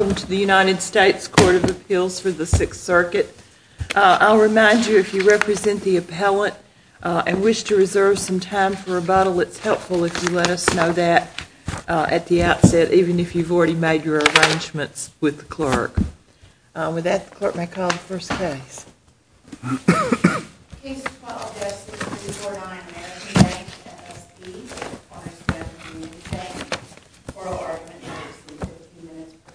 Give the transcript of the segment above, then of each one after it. Welcome to the United States Court of Appeals for the Sixth Circuit. I'll remind you if you represent the appellant and wish to reserve some time for rebuttal, it's helpful if you let us know that at the outset, even if you've already made your arrangements with the clerk. With that, the clerk may call the first case. Case 12-S is the Cordon American Bank FSB v. Cornerstone Community Bank. Oral argument is 15 minutes per side.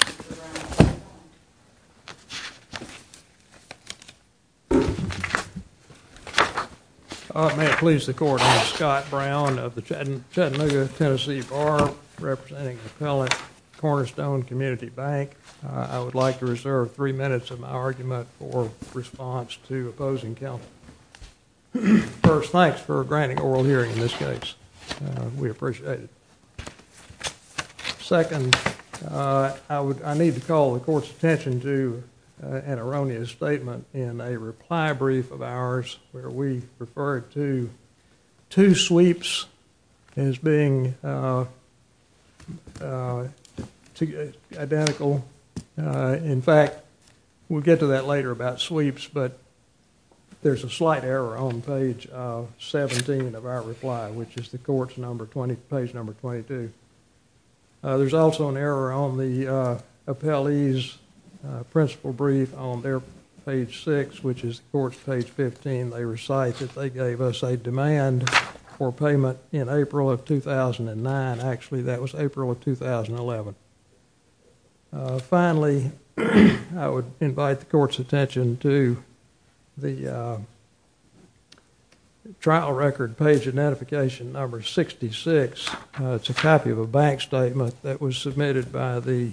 Mr. Brown, please go ahead. May it please the Court, I am Scott Brown of the Chattanooga, Tennessee Bar, representing the appellant, Cornerstone Community Bank. I would like to reserve three minutes of my argument for response to opposing counsel. First, thanks for granting oral hearing in this case. We appreciate it. Second, I need to call the Court's attention to an erroneous statement in a reply brief of ours where we referred to two sweeps as being identical. In fact, we'll get to that later about sweeps, but there's a slight error on page 17 of our reply, which is page number 22. There's also an error on the appellee's principle brief on their page 6, which is the Court's page 15. They recite that they gave us a demand for payment in April of 2009. Actually, that was April of 2011. Finally, I would invite the Court's attention to the trial record page of notification number 66. It's a copy of a bank statement that was submitted by the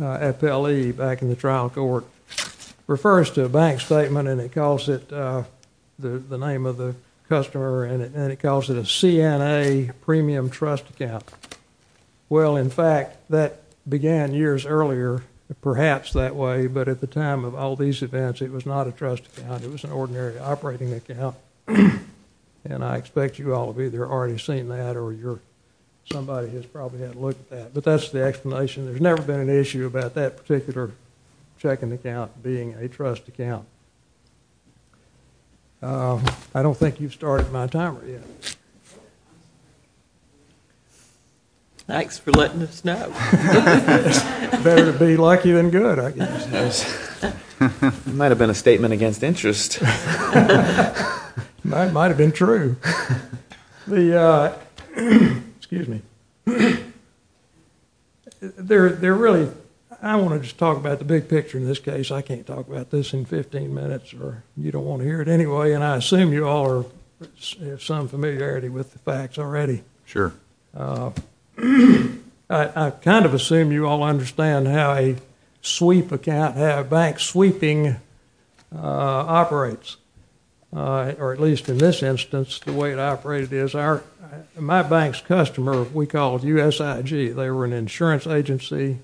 appellee back in the trial court. It refers to a bank statement, and it calls it the name of the customer, and it calls it a CNA premium trust account. Well, in fact, that began years earlier, perhaps that way, but at the time of all these events, it was not a trust account. It was an ordinary operating account, and I expect you all have either already seen that or somebody has probably had a look at that, but that's the explanation. There's never been an issue about that particular checking account being a trust account. I don't think you've started my timer yet. Thanks for letting us know. Better to be lucky than good, I guess. It might have been a statement against interest. It might have been true. Excuse me. I want to just talk about the big picture in this case. I can't talk about this in 15 minutes, or you don't want to hear it anyway, and I assume you all have some familiarity with the facts already. Sure. I kind of assume you all understand how a sweep account, how a bank sweeping operates, or at least in this instance, the way it operated is my bank's customer we called USIG. They were an insurance agency.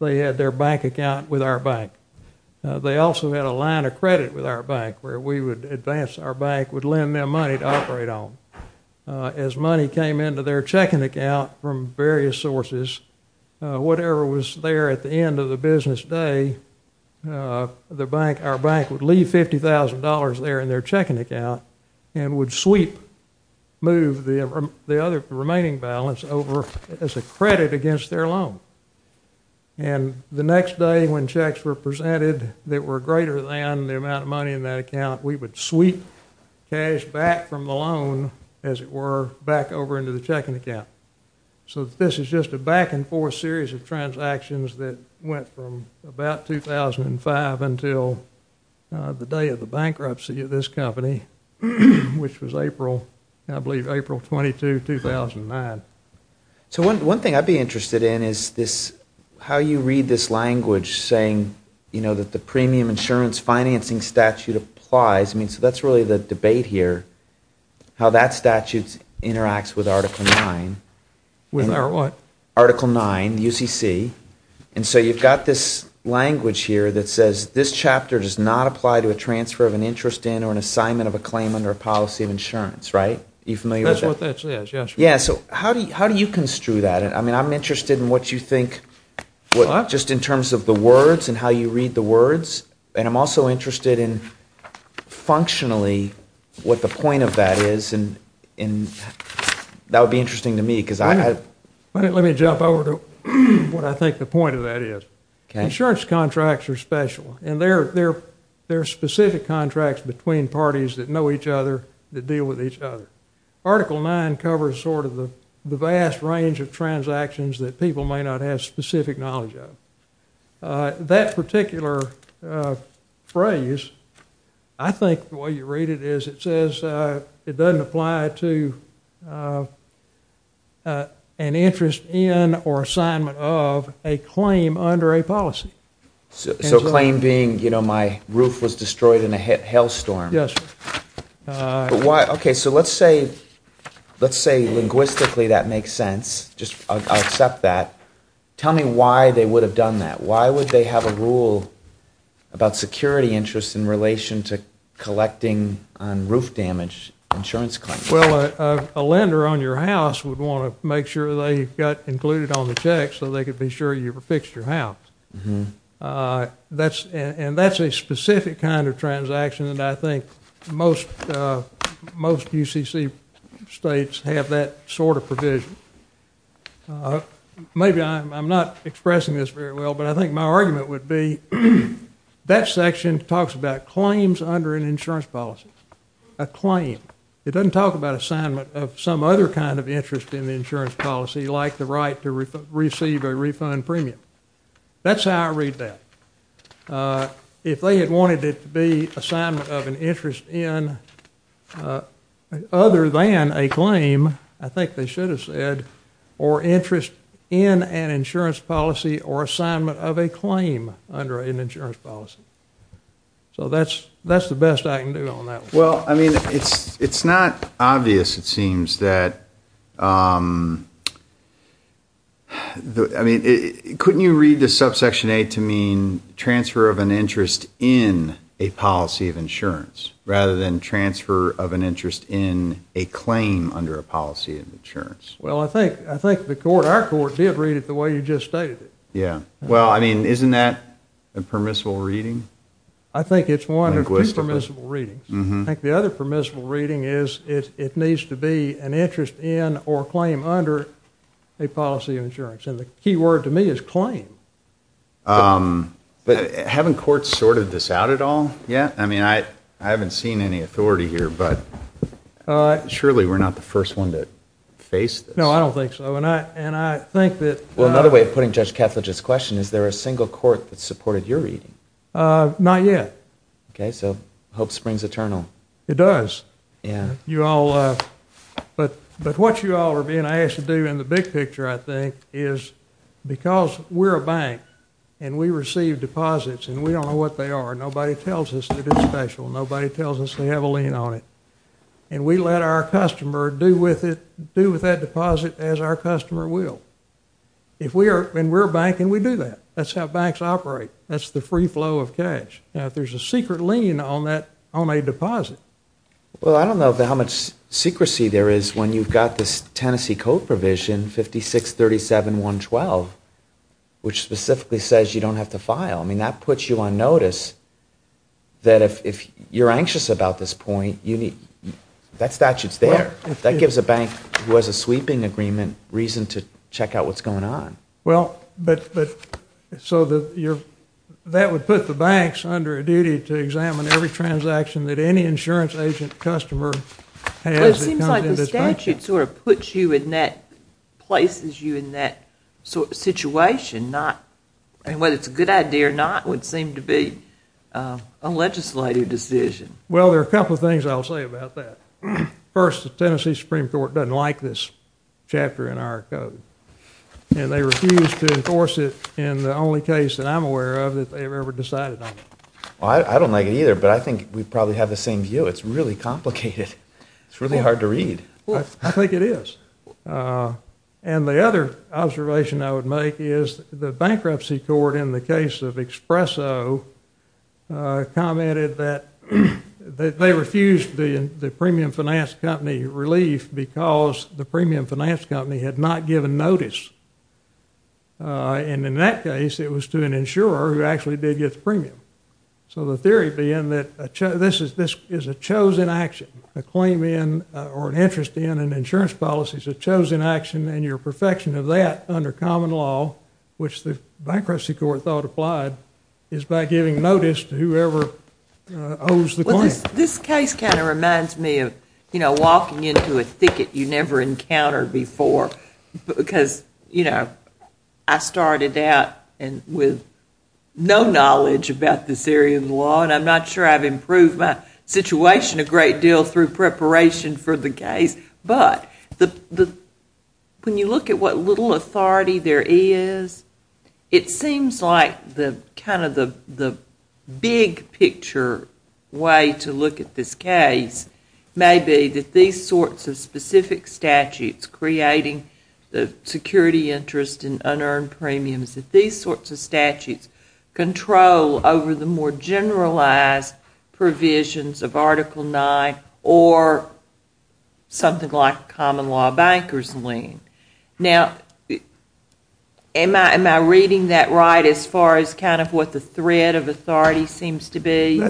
They had their bank account with our bank. They also had a line of credit with our bank where we would advance our bank, would lend them money to operate on. As money came into their checking account from various sources, whatever was there at the end of the business day, our bank would leave $50,000 there in their checking account and would sweep, move the remaining balance over as a credit against their loan. The next day when checks were presented that were greater than the amount of money in that account, we would sweep cash back from the loan, as it were, back over into the checking account. So this is just a back-and-forth series of transactions that went from about 2005 until the day of the bankruptcy of this company, which was April, I believe, April 22, 2009. So one thing I'd be interested in is how you read this language saying that the premium insurance financing statute applies. So that's really the debate here, how that statute interacts with Article 9. With our what? Article 9, UCC. So you've got this language here that says, this chapter does not apply to a transfer of an interest in or an assignment of a claim under a policy of insurance, right? Are you familiar with that? That's what that says, yes. So how do you construe that? I mean, I'm interested in what you think, just in terms of the words and how you read the words, and I'm also interested in functionally what the point of that is, and that would be interesting to me because I— Let me jump over to what I think the point of that is. Okay. Insurance contracts are special, and there are specific contracts between parties that know each other that deal with each other. Article 9 covers sort of the vast range of transactions that people may not have specific knowledge of. That particular phrase, I think the way you read it is it says it doesn't apply to an interest in or assignment of a claim under a policy. So claim being, you know, my roof was destroyed in a hailstorm. Yes, sir. Okay, so let's say linguistically that makes sense. I'll accept that. Tell me why they would have done that. Why would they have a rule about security interest in relation to collecting on roof damage insurance claims? Well, a lender on your house would want to make sure they got included on the check so they could be sure you fixed your house. And that's a specific kind of transaction, and I think most UCC states have that sort of provision. Maybe I'm not expressing this very well, but I think my argument would be that section talks about claims under an insurance policy. A claim. It doesn't talk about assignment of some other kind of interest in the insurance policy like the right to receive a refund premium. That's how I read that. If they had wanted it to be assignment of an interest in other than a claim, I think they should have said or interest in an insurance policy or assignment of a claim under an insurance policy. So that's the best I can do on that one. Well, I mean, it's not obvious, it seems, that... Couldn't you read the subsection A to mean transfer of an interest in a policy of insurance rather than transfer of an interest in a claim under a policy of insurance? Well, I think our court did read it the way you just stated it. Yeah. Well, I mean, isn't that a permissible reading? I think it's one of two permissible readings. I think the other permissible reading is it needs to be an interest in or claim under a policy of insurance. And the key word to me is claim. But haven't courts sorted this out at all yet? I mean, I haven't seen any authority here, but surely we're not the first one to face this. No, I don't think so. And I think that... Well, another way of putting Judge Ketledge's question, is there a single court that supported your reading? Not yet. Okay, so hope springs eternal. It does. Yeah. You all... But what you all are being asked to do in the big picture, I think, is because we're a bank and we receive deposits and we don't know what they are, nobody tells us that it's special, nobody tells us they have a lien on it, and we let our customer do with that deposit as our customer will. And we're a bank and we do that. That's how banks operate. That's the free flow of cash. Now, if there's a secret lien on a deposit... Well, I don't know how much secrecy there is when you've got this Tennessee Code provision, 5637.112, which specifically says you don't have to file. I mean, that puts you on notice that if you're anxious about this point, that statute's there. That gives a bank who has a sweeping agreement reason to check out what's going on. Well, but so that would put the banks under a duty to examine every transaction that any insurance agent customer has. Well, it seems like the statute sort of puts you in that, places you in that situation, and whether it's a good idea or not would seem to be a legislative decision. Well, there are a couple of things I'll say about that. First, the Tennessee Supreme Court doesn't like this chapter in our code, and they refuse to enforce it in the only case that I'm aware of that they've ever decided on it. Well, I don't like it either, but I think we probably have the same view. It's really complicated. It's really hard to read. I think it is. And the other observation I would make is the bankruptcy court in the case of Expresso commented that they refused the premium finance company relief because the premium finance company had not given notice. And in that case, it was to an insurer who actually did get the premium. So the theory being that this is a chosen action, a claim in or an interest in an insurance policy. It's a chosen action, and your perfection of that under common law, which the bankruptcy court thought applied, is by giving notice to whoever owes the claim. Well, this case kind of reminds me of, you know, walking into a thicket you never encountered before because, you know, I started out with no knowledge about this area of the law, and I'm not sure I've improved my situation a great deal through preparation for the case. But when you look at what little authority there is, it seems like kind of the big picture way to look at this case may be that these sorts of specific statutes creating the security interest and unearned premiums, that these sorts of statutes control over the more generalized provisions of Article IX or something like common law bankers' lien. Now, am I reading that right as far as kind of what the thread of authority seems to be?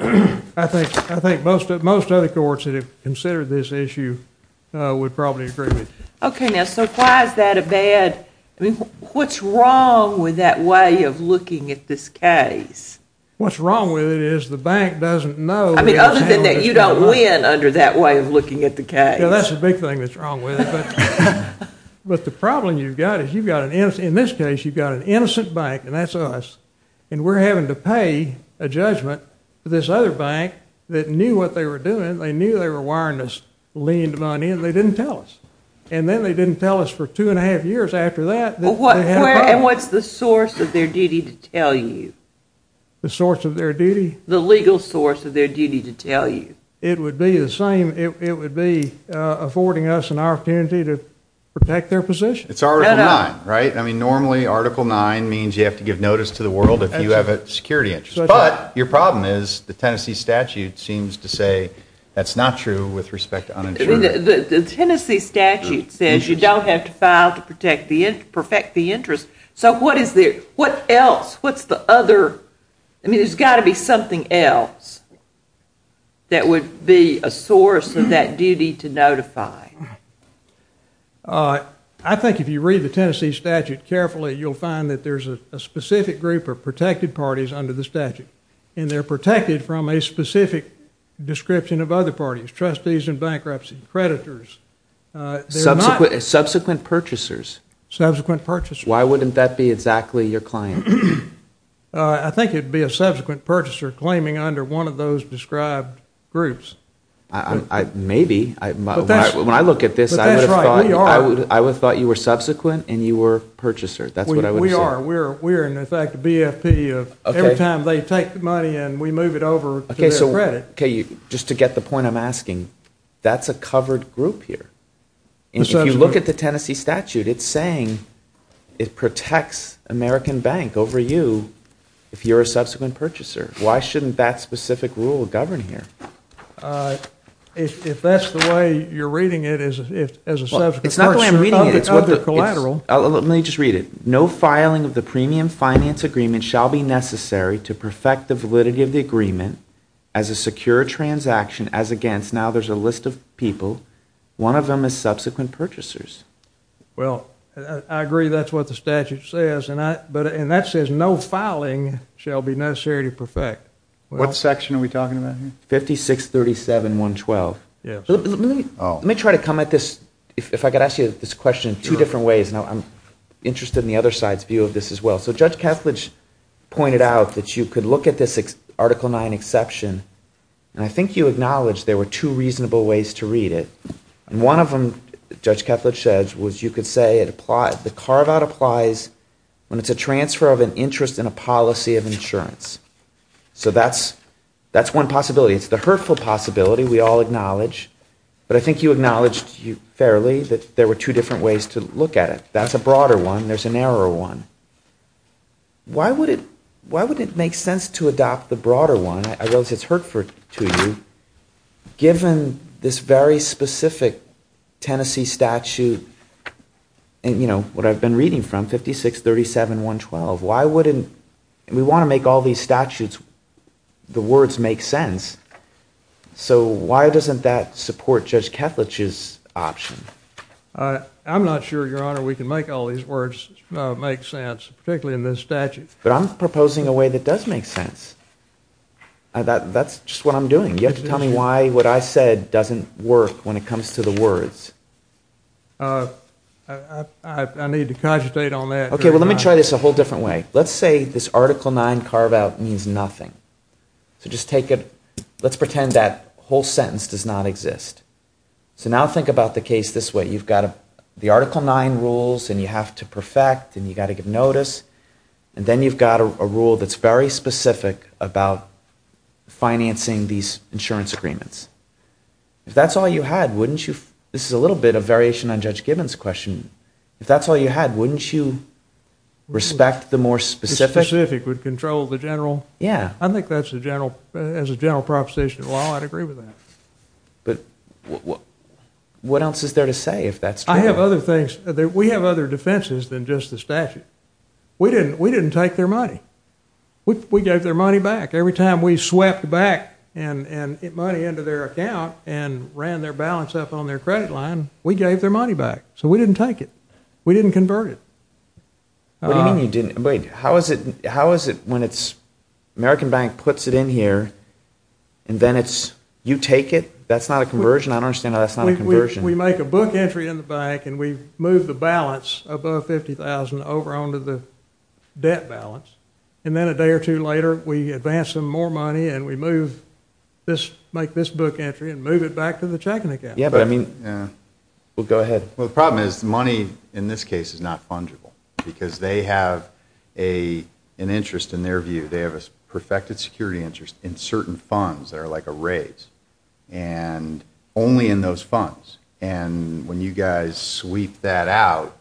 I think most other courts that have considered this issue would probably agree with you. Okay, now, so why is that a bad... I mean, what's wrong with that way of looking at this case? What's wrong with it is the bank doesn't know... I mean, other than that, you don't win under that way of looking at the case. Well, that's the big thing that's wrong with it. But the problem you've got is you've got, in this case, you've got an innocent bank, and that's us, and we're having to pay a judgment to this other bank that knew what they were doing. They knew they were wiring this lien to money, and they didn't tell us. And then they didn't tell us for two and a half years after that. And what's the source of their duty to tell you? The source of their duty? The legal source of their duty to tell you. It would be the same. It would be affording us an opportunity to protect their position. It's Article IX, right? I mean, normally Article IX means you have to give notice to the world if you have a security interest. But your problem is the Tennessee statute seems to say that's not true with respect to uninsured. The Tennessee statute says you don't have to file to perfect the interest. So what else? What's the other? I mean, there's got to be something else that would be a source of that duty to notify. I think if you read the Tennessee statute carefully, you'll find that there's a specific group of protected parties under the statute, and they're protected from a specific description of other parties, trustees in bankruptcy, creditors. Subsequent purchasers. Subsequent purchasers. Why wouldn't that be exactly your claim? I think it would be a subsequent purchaser claiming under one of those described groups. Maybe. When I look at this, I would have thought you were subsequent and you were purchaser. That's what I would have said. We are. We're in effect a BFP of every time they take the money and we move it over to their credit. Just to get the point I'm asking, that's a covered group here. If you look at the Tennessee statute, it's saying it protects American Bank over you if you're a subsequent purchaser. Why shouldn't that specific rule govern here? If that's the way you're reading it as a subsequent purchaser, I'll be collateral. Let me just read it. No filing of the premium finance agreement shall be necessary to perfect the validity of the agreement as a secure transaction as against. Now there's a list of people. One of them is subsequent purchasers. Well, I agree that's what the statute says, and that says no filing shall be necessary to perfect. What section are we talking about here? 5637.112. Let me try to come at this, if I could ask you this question in two different ways. I'm interested in the other side's view of this as well. So Judge Kethledge pointed out that you could look at this Article 9 exception, and I think you acknowledged there were two reasonable ways to read it. One of them, Judge Kethledge said, was you could say the carve-out applies when it's a transfer of an interest in a policy of insurance. So that's one possibility. It's the hurtful possibility we all acknowledge, but I think you acknowledged fairly that there were two different ways to look at it. That's a broader one. There's a narrower one. Why would it make sense to adopt the broader one? I realize it's hurtful to you. Given this very specific Tennessee statute, what I've been reading from, 5637.112, why wouldn't... We want to make all these statutes, the words make sense. So why doesn't that support Judge Kethledge's option? I'm not sure, Your Honor, we can make all these words make sense, particularly in this statute. But I'm proposing a way that does make sense. That's just what I'm doing. You have to tell me why what I said doesn't work when it comes to the words. I need to cogitate on that. Okay, well, let me try this a whole different way. Let's say this Article 9 carve-out means nothing. So just take it... Let's pretend that whole sentence does not exist. So now think about the case this way. You've got the Article 9 rules, and you have to perfect, and you've got to give notice, and then you've got a rule that's very specific about financing these insurance agreements. If that's all you had, wouldn't you... This is a little bit of variation on Judge Gibbons' question. If that's all you had, wouldn't you respect the more specific... The specific would control the general? Yeah. I think that's a general... As a general proposition of the law, I'd agree with that. But what else is there to say if that's true? I have other things. We have other defenses than just the statute. We didn't take their money. We gave their money back. Every time we swept back money into their account and ran their balance up on their credit line, we gave their money back. So we didn't take it. We didn't convert it. What do you mean you didn't... Wait, how is it when it's... American Bank puts it in here, and then it's... You take it? That's not a conversion? I don't understand how that's not a conversion. We make a book entry in the bank and we move the balance above $50,000 over onto the debt balance. And then a day or two later, we advance some more money and we make this book entry and move it back to the checking account. Yeah, but I mean... Well, go ahead. Well, the problem is money in this case is not fungible because they have an interest in their view. They have a perfected security interest in certain funds that are like a raise and only in those funds. And when you guys sweep that out,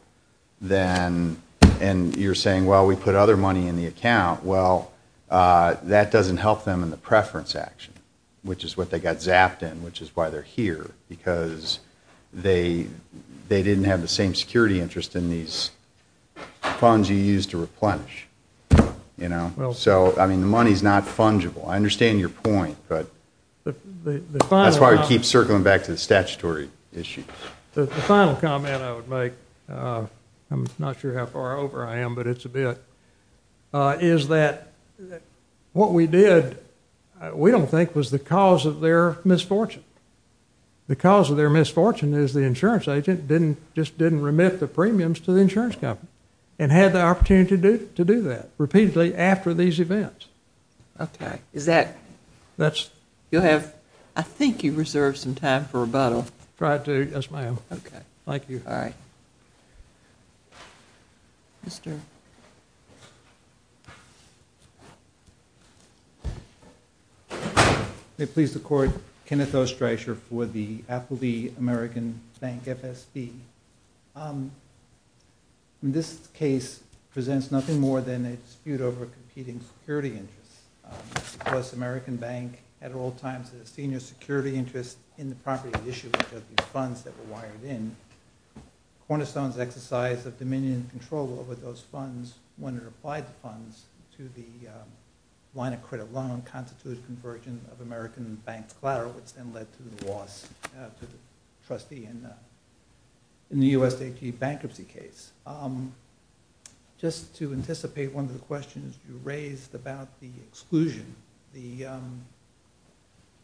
then you're saying, well, we put other money in the account. Well, that doesn't help them in the preference action, which is what they got zapped in, which is why they're here because they didn't have the same security interest in these funds you used to replenish. You know? So, I mean, the money's not fungible. I understand your point, but that's why we keep circling back to the statutory issue. The final comment I would make, I'm not sure how far over I am, but it's a bit, is that what we did, we don't think, was the cause of their misfortune. The cause of their misfortune is the insurance agent just didn't remit the premiums to the insurance company and had the opportunity to do that repeatedly after these events. Okay. Is that... That's... You'll have, I think, you reserve some time for rebuttal. Try to, yes, ma'am. Okay. Thank you. All right. Mr... May it please the Court, Kenneth O. Stracher for the Appleby American Bank FSB. This case presents nothing more than a dispute over competing security interests. Because American Bank at all times had a senior security interest in the property at issue, which are the funds that were wired in. Cornerstone's exercise of dominion and control over those funds when it applied the funds to the line of credit loan constituted conversion of American Bank's collateral, which then led to the loss to the trustee in the USAG bankruptcy case. Just to anticipate one of the questions you raised about the exclusion, the...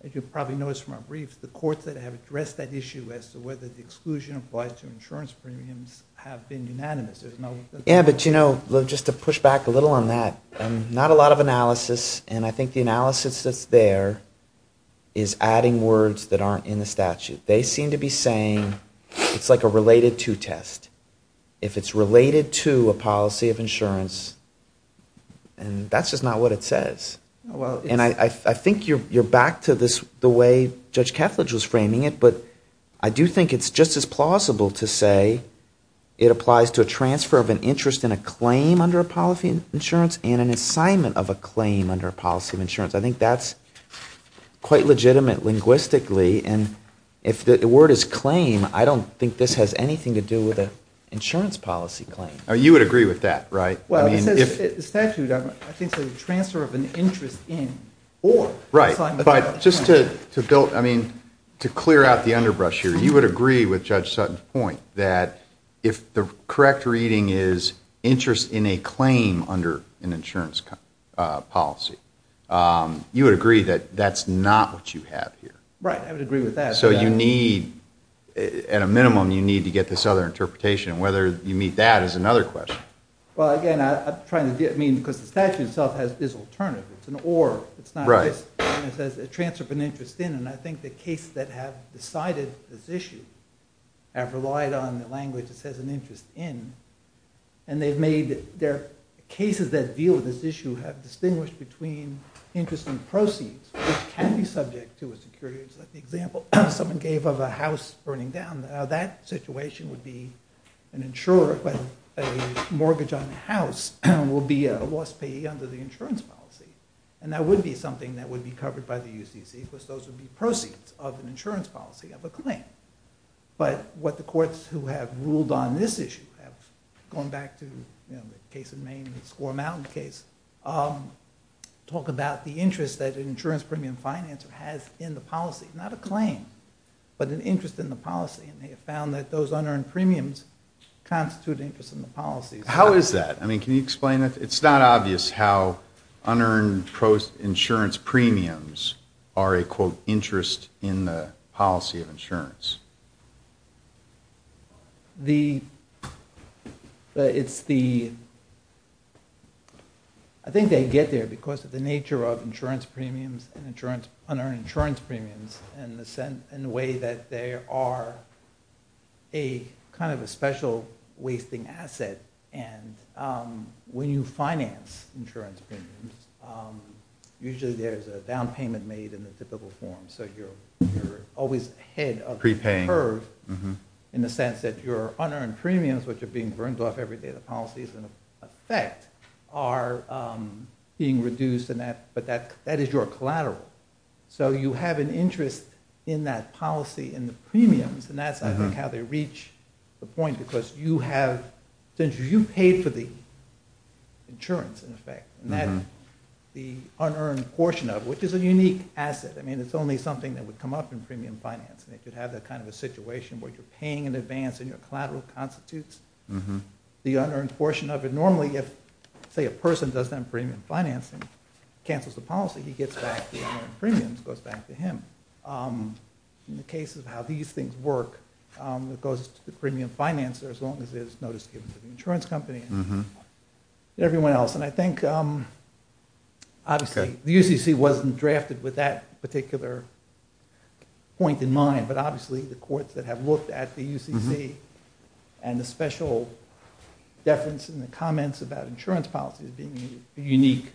As you probably noticed from our brief, the courts that have addressed that issue as to whether the exclusion applies to insurance premiums have been unanimous. There's no... Yeah, but, you know, just to push back a little on that, not a lot of analysis, and I think the analysis that's there is adding words that aren't in the statute. They seem to be saying it's like a related to test. If it's related to a policy of insurance, and that's just not what it says. And I think you're back to this, the way Judge Kethledge was framing it, but I do think it's just as plausible to say it applies to a transfer of an interest in a claim under a policy of insurance and an assignment of a claim under a policy of insurance. I think that's quite legitimate linguistically, and if the word is claim, I don't think this has anything to do with an insurance policy claim. You would agree with that, right? Well, the statute, I think, says a transfer of an interest in or assignment of a claim. Right, but just to build, I mean, to clear out the underbrush here, you would agree with Judge Sutton's point that if the correct reading is interest in a claim under an insurance policy, you would agree that that's not what you have here. Right, I would agree with that. So you need, at a minimum, you need to get this other interpretation, and whether you meet that is another question. Well, again, I'm trying to get, I mean, because the statute itself has this alternative. It's an or, it's not this. Right. And it says a transfer of an interest in, and I think the case that have decided this issue have relied on the language that says an interest in, and they've made their cases that deal with this issue have distinguished between interest in proceeds, which can be subject to a security. It's like the example someone gave of a house burning down. Now that situation would be an insurer with a mortgage on the house will be a lost payee under the insurance policy. And that would be something that would be covered by the UCC because those would be proceeds of an insurance policy of a claim. But what the courts who have ruled on this issue have, going back to, you know, the case in Maine, the Score Mountain case, talk about the interest that an insurance premium financer has in the policy. Not a claim, but an interest in the policy. And they have found that those unearned premiums constitute interest in the policy. How is that? I mean, can you explain that? It's not obvious how unearned insurance premiums are a, quote, interest in the policy of insurance. The, it's the, I think they get there because of the nature of insurance premiums and insurance, unearned insurance premiums and the way that they are a kind of a special wasting asset. And when you finance insurance premiums, usually there's a down payment made in the typical form. So you're always ahead of the curve your unearned premiums, which are being burned off every day of the policy, is in effect, are being reduced. But that is your collateral. So you have an interest in that policy and the premiums. And that's, I think, how they reach the point because you have, since you paid for the insurance, in effect, and that the unearned portion of, which is a unique asset. I mean, it's only something that would come up in premium finance. And if you'd have that kind of a situation where you're paying in advance and your collateral constitutes the unearned portion of it. Normally, if, say, a person does that in premium financing, cancels the policy, he gets back the premiums, goes back to him. In the case of how these things work, it goes to the premium financer as long as there's notice given to the insurance company and everyone else. And I think, obviously, the UCC wasn't drafted with that particular point in mind. But obviously, the courts that have looked at the UCC and the special deference in the comments about insurance policies being a unique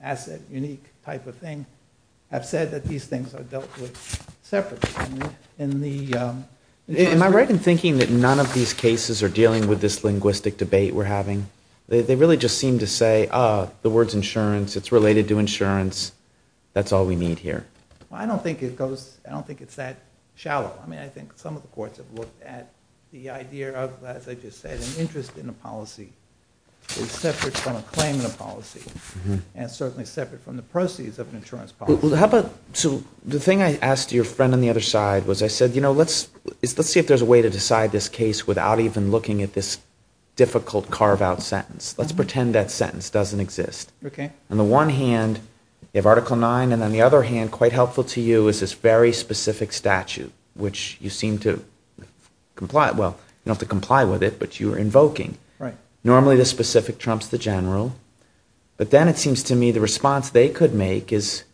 asset, unique type of thing, have said that these things are dealt with separately. And the... Am I right in thinking that none of these cases are dealing with this linguistic debate we're having? They really just seem to say, ah, the word's insurance, it's related to insurance, that's all we need here. I don't think it goes, I don't think it's that shallow. I mean, I think some of the courts have looked at the idea of, as I just said, an interest in a policy is separate from a claim in a policy. And it's certainly separate from the proceeds of an insurance policy. Well, how about... So the thing I asked your friend on the other side was I said, you know, let's see if there's a way to decide this case without even looking at this difficult, carve-out sentence. Let's pretend that sentence doesn't exist. Okay. On the one hand, you have Article 9, and on the other hand, quite helpful to you is this very specific statute, which you seem to comply... Well, you don't have to comply with it, but you're invoking. Normally, the specific trumps the general. But then it seems to me the response they could make is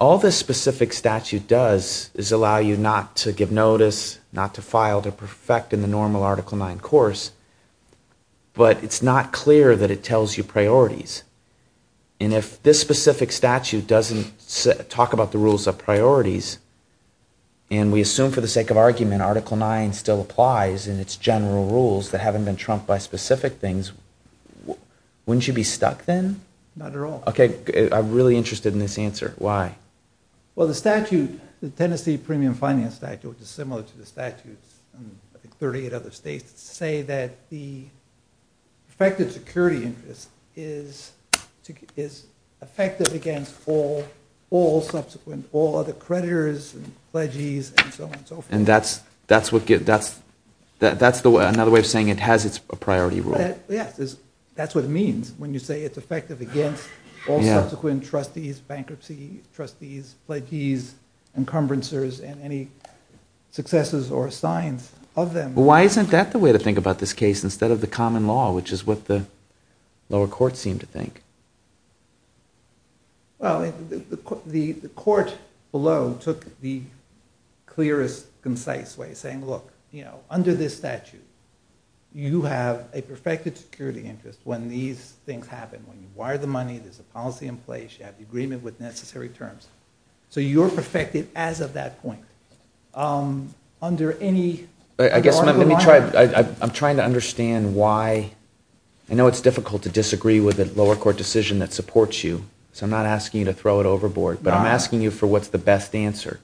all this specific statute does is allow you not to give notice, not to file, to perfect in the normal Article 9 course. But it's not clear that it tells you priorities. And if this specific statute doesn't talk about the rules of priorities, and we assume, for the sake of argument, Article 9 still applies, and it's general rules that haven't been trumped by specific things, wouldn't you be stuck then? Not at all. Okay. I'm really interested in this answer. Why? Well, the statute, the Tennessee Premium Finance Statute, which is similar to the statutes in 38 other states, security interest is effective against all subsequent, all other creditors, and pledges, and so on and so forth. That's another way of saying it has its priority rule. Yes. That's what it means when you say it's effective against all subsequent trustees, bankruptcy trustees, pledges, encumbrances, and any successes or signs of them. Why isn't that the way to think about this case instead of the common law, which is what the lower courts seem to think? Well, the court below took the clearest concise way saying, look, under this statute, you have a perfected security interest when these things happen. When you wire the money, there's a policy in place, you have the agreement with necessary terms. So you're perfected as of that point. Under any normal law? I'm trying to understand why. I know it's difficult to disagree with a lower court decision that supports you, so I'm not asking you to throw it overboard, but I'm asking you for what's the best answer.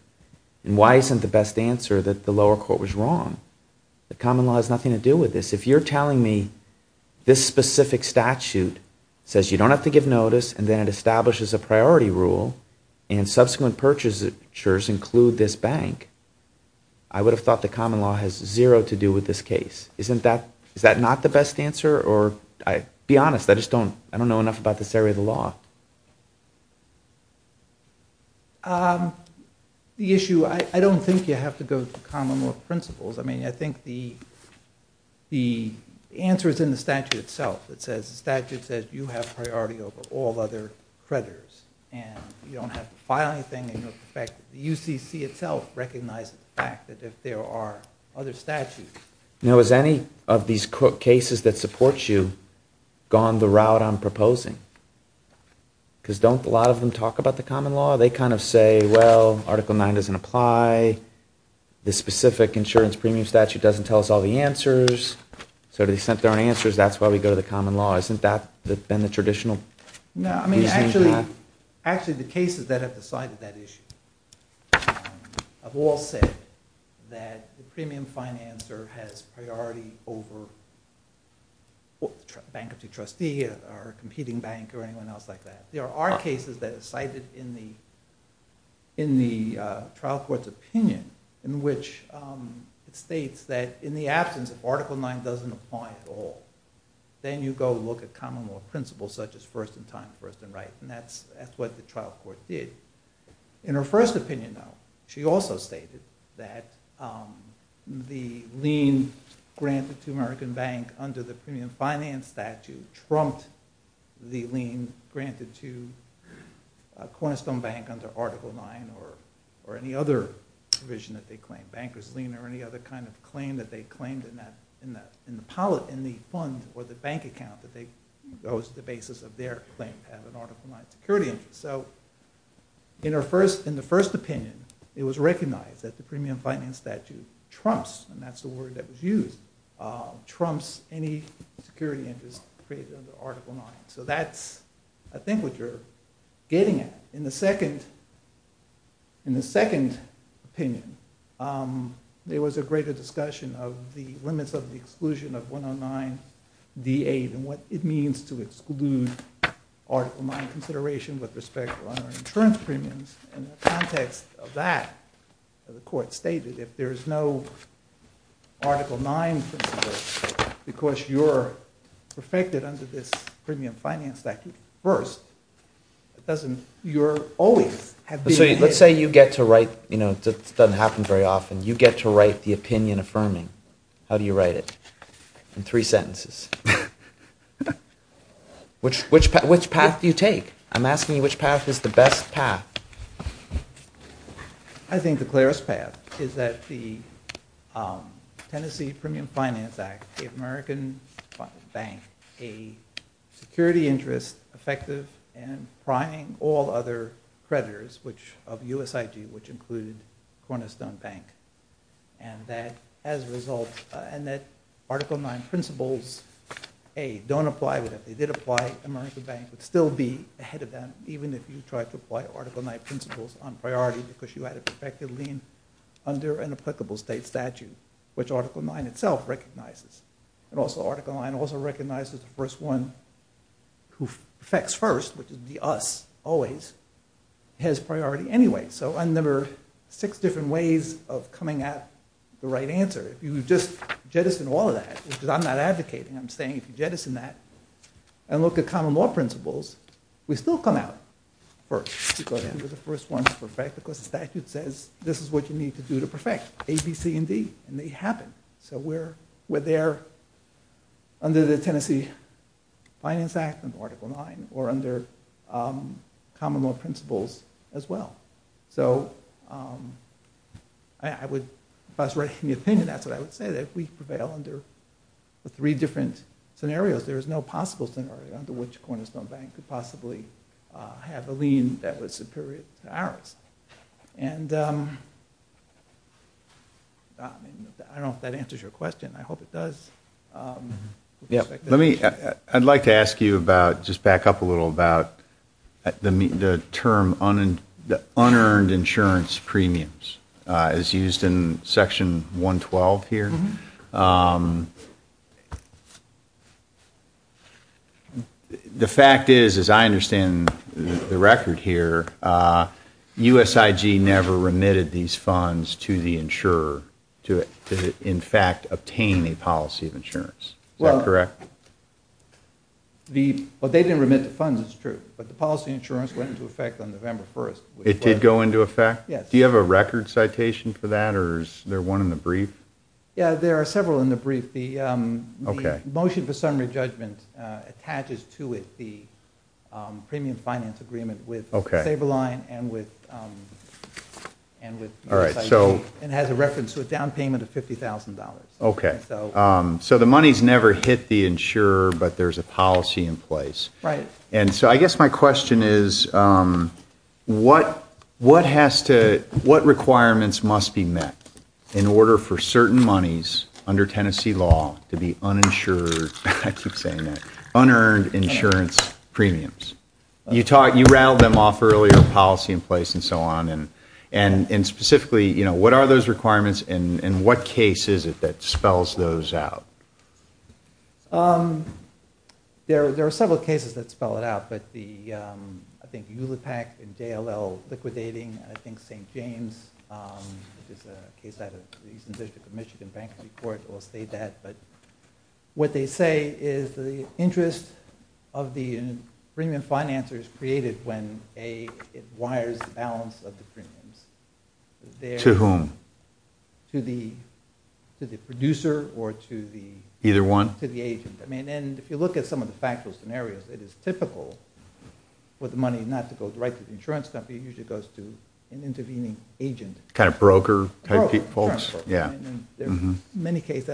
And why isn't the best answer that the lower court was wrong? The common law has nothing to do with this. If you're telling me this specific statute says you don't have to give notice and then it establishes a priority rule and subsequent purchasers include this bank, I would have thought the common law has zero to do with this case. Isn't that, is that not the best answer? Or, be honest, I just don't, I don't know enough about this area of the law. The issue, I don't think you have to go to the common law principles. I mean, I think the the answer is in the statute itself. It says, the statute says you have priority over all other creditors and you don't have to file anything and you know the fact that the UCC itself recognizes the fact that if there are other statutes. Now has any of these cases that support you gone the route I'm proposing? Because don't a lot of them talk about the common law? They kind of say, well, article 9 doesn't apply, this specific insurance premium statute doesn't tell us all the answers, so they sent their own answers, that's why we go to the common law. Isn't that been the traditional reasoning for that? No, I mean, actually, actually the cases that have decided that issue have all said that the premium financer has priority over the bankruptcy trustee or competing bank or anyone else like that. There are cases that are cited in the trial court's opinion in which it states that in the absence of article 9 doesn't apply at all, then you go look at common law principles such as first in time, first in right, and that's what the trial court did. In her first opinion, though, she also stated that the lien granted to American Bank under the premium finance statute trumped the lien granted to Cornerstone Bank under article 9 or any other provision that they claimed, bankers lien or any other kind of claim that they claimed in the fund or the bank account that goes to the basis of their claim to have an article 9 security interest. So, in the first opinion, it was recognized that the premium finance statute trumps, and that's the word that was used, trumps any security interest created under article 9. So, that's, I think, what you're getting at. In the second opinion, there was a greater discussion of the limits of the exclusion of 109 D8 and what it means to exclude article 9 consideration with respect to insurance premiums and the context of that and the court stated if there's no article 9 principle because you're perfected under this premium finance statute first, it doesn't, you're always have been ahead. Let's say you get to write, you know, it doesn't happen very often, you get to write the opinion affirming. How do you write it? In three sentences. Which path do you take? I'm asking you which path is the best path? I think the clearest path is that the Tennessee Premium Finance Act gave American Bank a security interest effective and priming all other creditors which of USIG which included Cornerstone Bank and that as a result and that article 9 principles, A, don't apply to them. If they did apply, American Bank would still be ahead of them even if you tried to apply article 9 principles on priority because you had to effectively under an applicable state statute which article 9 itself recognizes. And also article 9 also recognizes the first one who affects first which is the US always has priority anyway. So I remember six different ways of coming at the right If you just jettison all of that because I'm not advocating I'm saying if you jettison that and look at common law principles we still come out first. We're the first one to perfect because the statute says this is what you need to do to perfect A, B, C, and D. And they happen. So we're there under the Tennessee Finance Act and article 9 or under common law principles as well. So I would, if I was right in the opinion that's what I would say that we prevail under three different scenarios. There is no possible scenario under which Cornerstone Bank could possibly have a lien that was superior to ours. I don't know if that answers your question. I hope it does. I'd like to ask you just back up a little about the term unearned insurance premiums as used in section 112 here. The fact is as I understand the record here, USIG never remitted these funds to the insurer to in fact obtain a policy of insurance. Is that correct? Well, they didn't remit the funds, it's true. But the policy insurance went into effect on November 1st. It did go into effect? Yes. Do you have a record citation for that or is there one in the brief? Yeah, there are several in the brief. The motion for summary judgment attaches to it the premium finance agreement with Sable Bank. So I guess my question is what has to what requirements must be met in order for certain monies under Tennessee law to be uninsured unearned insurance premiums? You rattled them off earlier, policy in place and so on. And specifically, what are those requirements and what case is it that spells those out? There are several cases that spell it out, but I think ULIPAC and JLL liquidating and I think St. James which is a case out of the Eastern United States. And they went to the or to the agent. If you look at some of the scenarios, it's typical for the money not to go to the insurance company, it usually goes to the agent. There are many cases,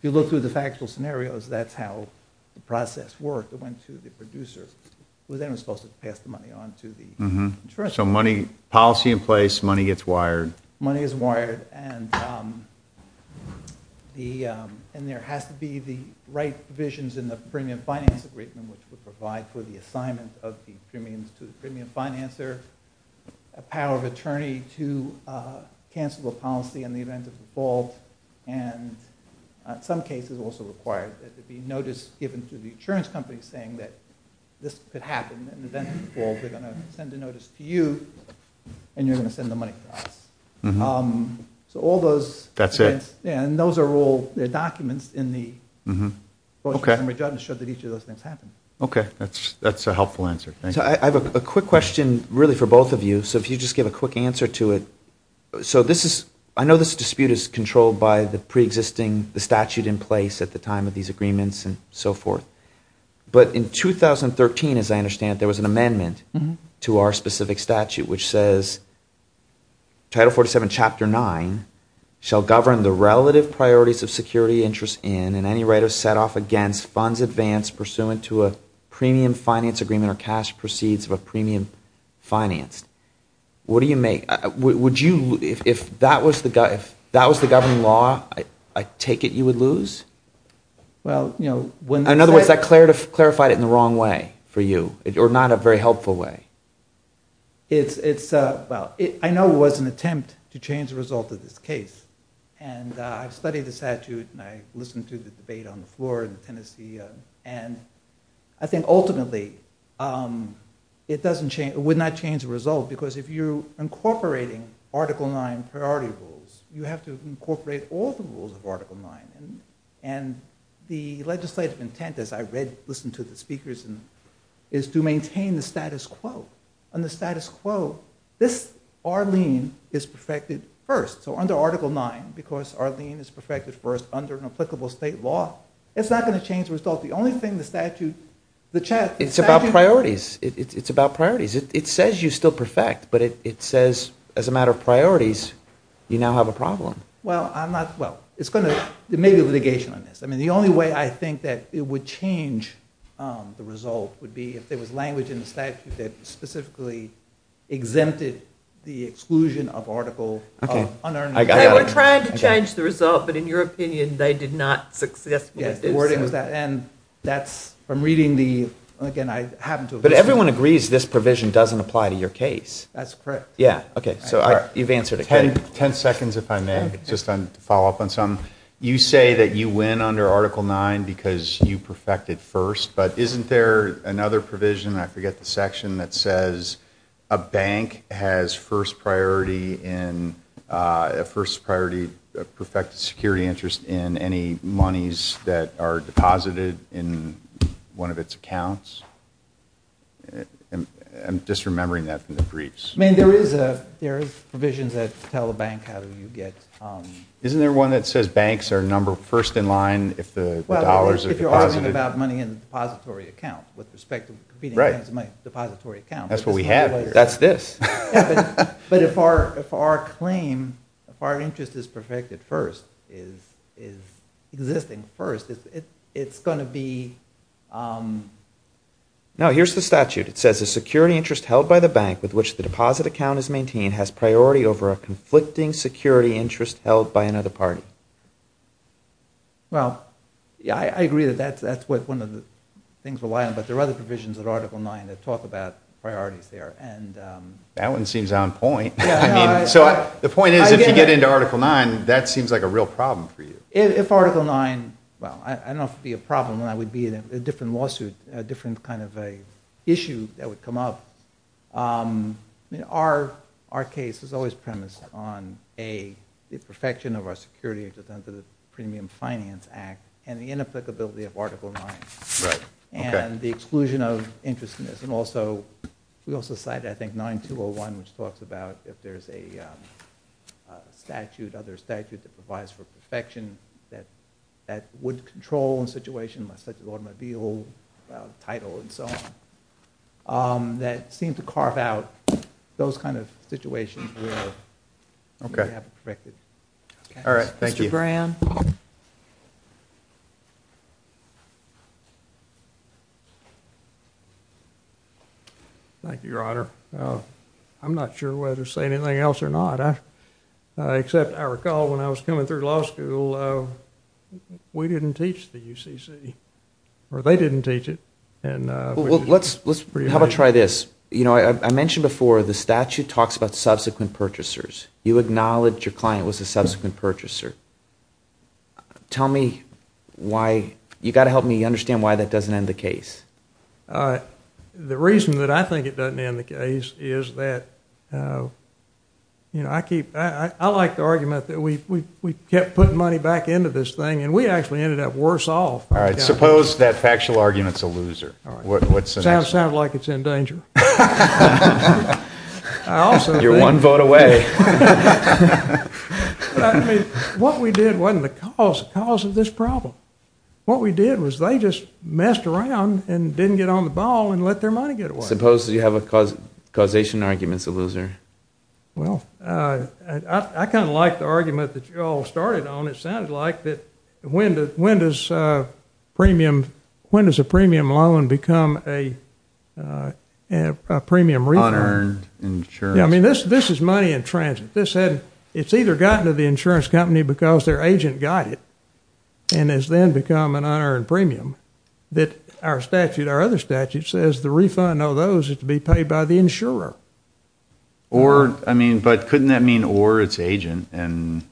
if you look through the factual scenarios, that's how the process worked. It went to the producer. So policy in place, money gets wired. Money is wired. And there has to be the right provisions in the premium finance agreement which would ensure that the insurance company could send the notice to you and you're going to send the money to us. And those are all documents in the brochure. That's a helpful answer. I have a quick question for both of you. I know this dispute is controlled by the statute in place at the time of these agreements and so forth. But in 2013 as I understand there was an amendment to our specific statute which says Title 47 Chapter 9 shall govern the relative priorities of security interests in and out. If that was the governing law I take it you would lose? In other words that clarified it in the wrong way for you or not a very helpful way. I know it was an attempt to change the result of this case and I studied the statute and I listened to the speakers and I said you have to incorporate all the rules of Article 9 and the legislative intent as I read and listened to the speakers is to maintain the status quo. And the status quo this Arlene is perfected first. So under Article 9 it's not going to change the result. The only thing the statute it's about priorities. It says you still perfect but it says as a matter of priorities you now have a problem. The only way I think it would change the result would be if there was language in the statute that specifically exempted the exclusion of article 9. We're trying to change the result but in your opinion they did not successfully do so. But everyone agrees this provision doesn't apply to your case. You say you win under Article 9 because you perfected first but isn't there another provision I forget the section that says a bank has first priority in a first priority perfected security interest in any monies that are deposited in one of its accounts? I'm just remembering that from the briefs. There is provisions that tell the bank how to get. Isn't there one that says banks are number first in line if the dollars are deposited? If you're talking about money in the depository account. That's what we have here. That's this. But if our claim, if our interest is perfected first, is existing first, it's going to be. No, here's the statute. It says a security interest held by the bank with which the money is deposited. Well, I agree that that's one of the things, but there are other provisions that talk about priorities there. That one seems on point. The point is if you get into Article 9, that seems like a real problem for you. If Article 9, I don't know if it would be a different lawsuit, a different kind of issue that would come up. Our case is always premised on the perfection of our security under the premium finance act and the inapplicability of Article 9 and the exclusion of interest in this. We also cited I think 9201 which talks about if there's a statute that provides for perfection that would control a situation such as automobile title and so on, that seem to carve out those kind of situations where we haven't perfected it. Mr. Graham? Thank you, Your Honor. I'm not sure whether to say anything else or not. Except I recall when I was coming through law school, we didn't teach the UCC. Or they didn't teach it. How about try this? I mentioned before the statute talks about subsequent purchasers. You acknowledge your client was a subsequent purchaser. Tell me why. You've got to help me understand why that doesn't end the case. The reason that I think it doesn't end the case is that, you know, I like the argument that we kept putting money back into this thing and we ended up worse off. Suppose that factual argument is a loser. Sounds like it's in danger. You're one vote away. What we did wasn't the cause of this problem. What we did was they just messed around and didn't get on the ball and let their money get away. Suppose you have a causation argument is a loser. I kind of like the argument that you all started on. It sounded like when does a premium loan become a premium refund? I mean, this is money in transit. It's either gotten to the insurance company because their agent got it and has then become an unearned premium that our statute, our other statute, says the refund of those is to be paid by the insurer. Or, I mean, but couldn't that mean or its agent? Well,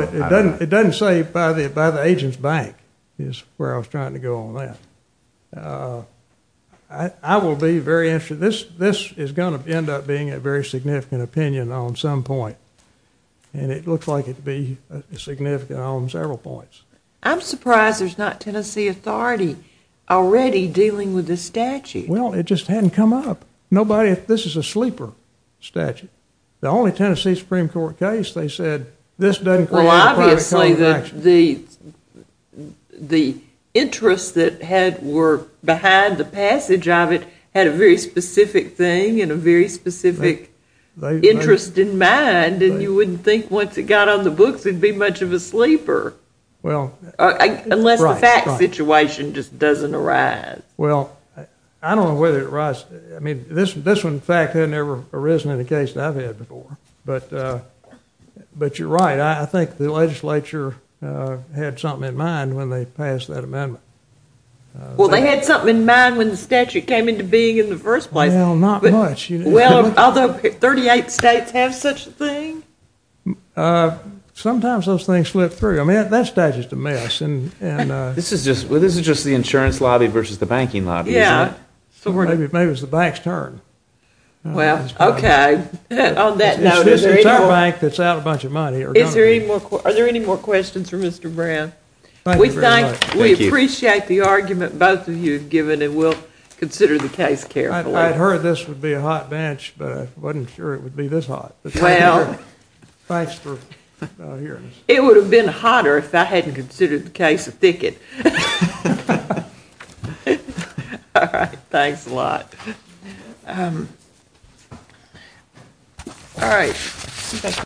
it doesn't say by the agent's bank is where I was trying to go on that. I will be very interested. This is going to end up being a very significant opinion on some point and it looks like it would be significant on several points. I'm surprised there's not Tennessee authority already dealing with this statute. Well, it just hadn't come up. Nobody, this is a sleeper statute. The only Tennessee Supreme Court case they said this doesn't create a private contract. Well, obviously the interests that were behind the passage of it had a very specific thing and a very specific interest in mind and you wouldn't think once it got on the books it would be much of a sleeper. Unless the fact situation just doesn't arise. Well, I don't know whether it arises. This one in fact had never arisen in a case that I've had before. But you're right. I think the legislature had something in mind when they passed that amendment. Well, they had something in mind when the statute came into being in the first place. Well, not much. Although 38 states have such a thing. Sometimes those things slip through. That statute is a mess. This is just the insurance lobby versus the banking lobby. Maybe it's the bank's concern. Well, okay. On that note, is there any more questions? Are there any more questions for Mr. Brown? We appreciate the argument both of you have given and we'll consider the case carefully. I heard this would be a hot bench but I wasn't sure it would be this hot. Thanks for hearing us. It would have been hotter if I hadn't considered the case of thicket. Thanks a lot. All right. Thank you.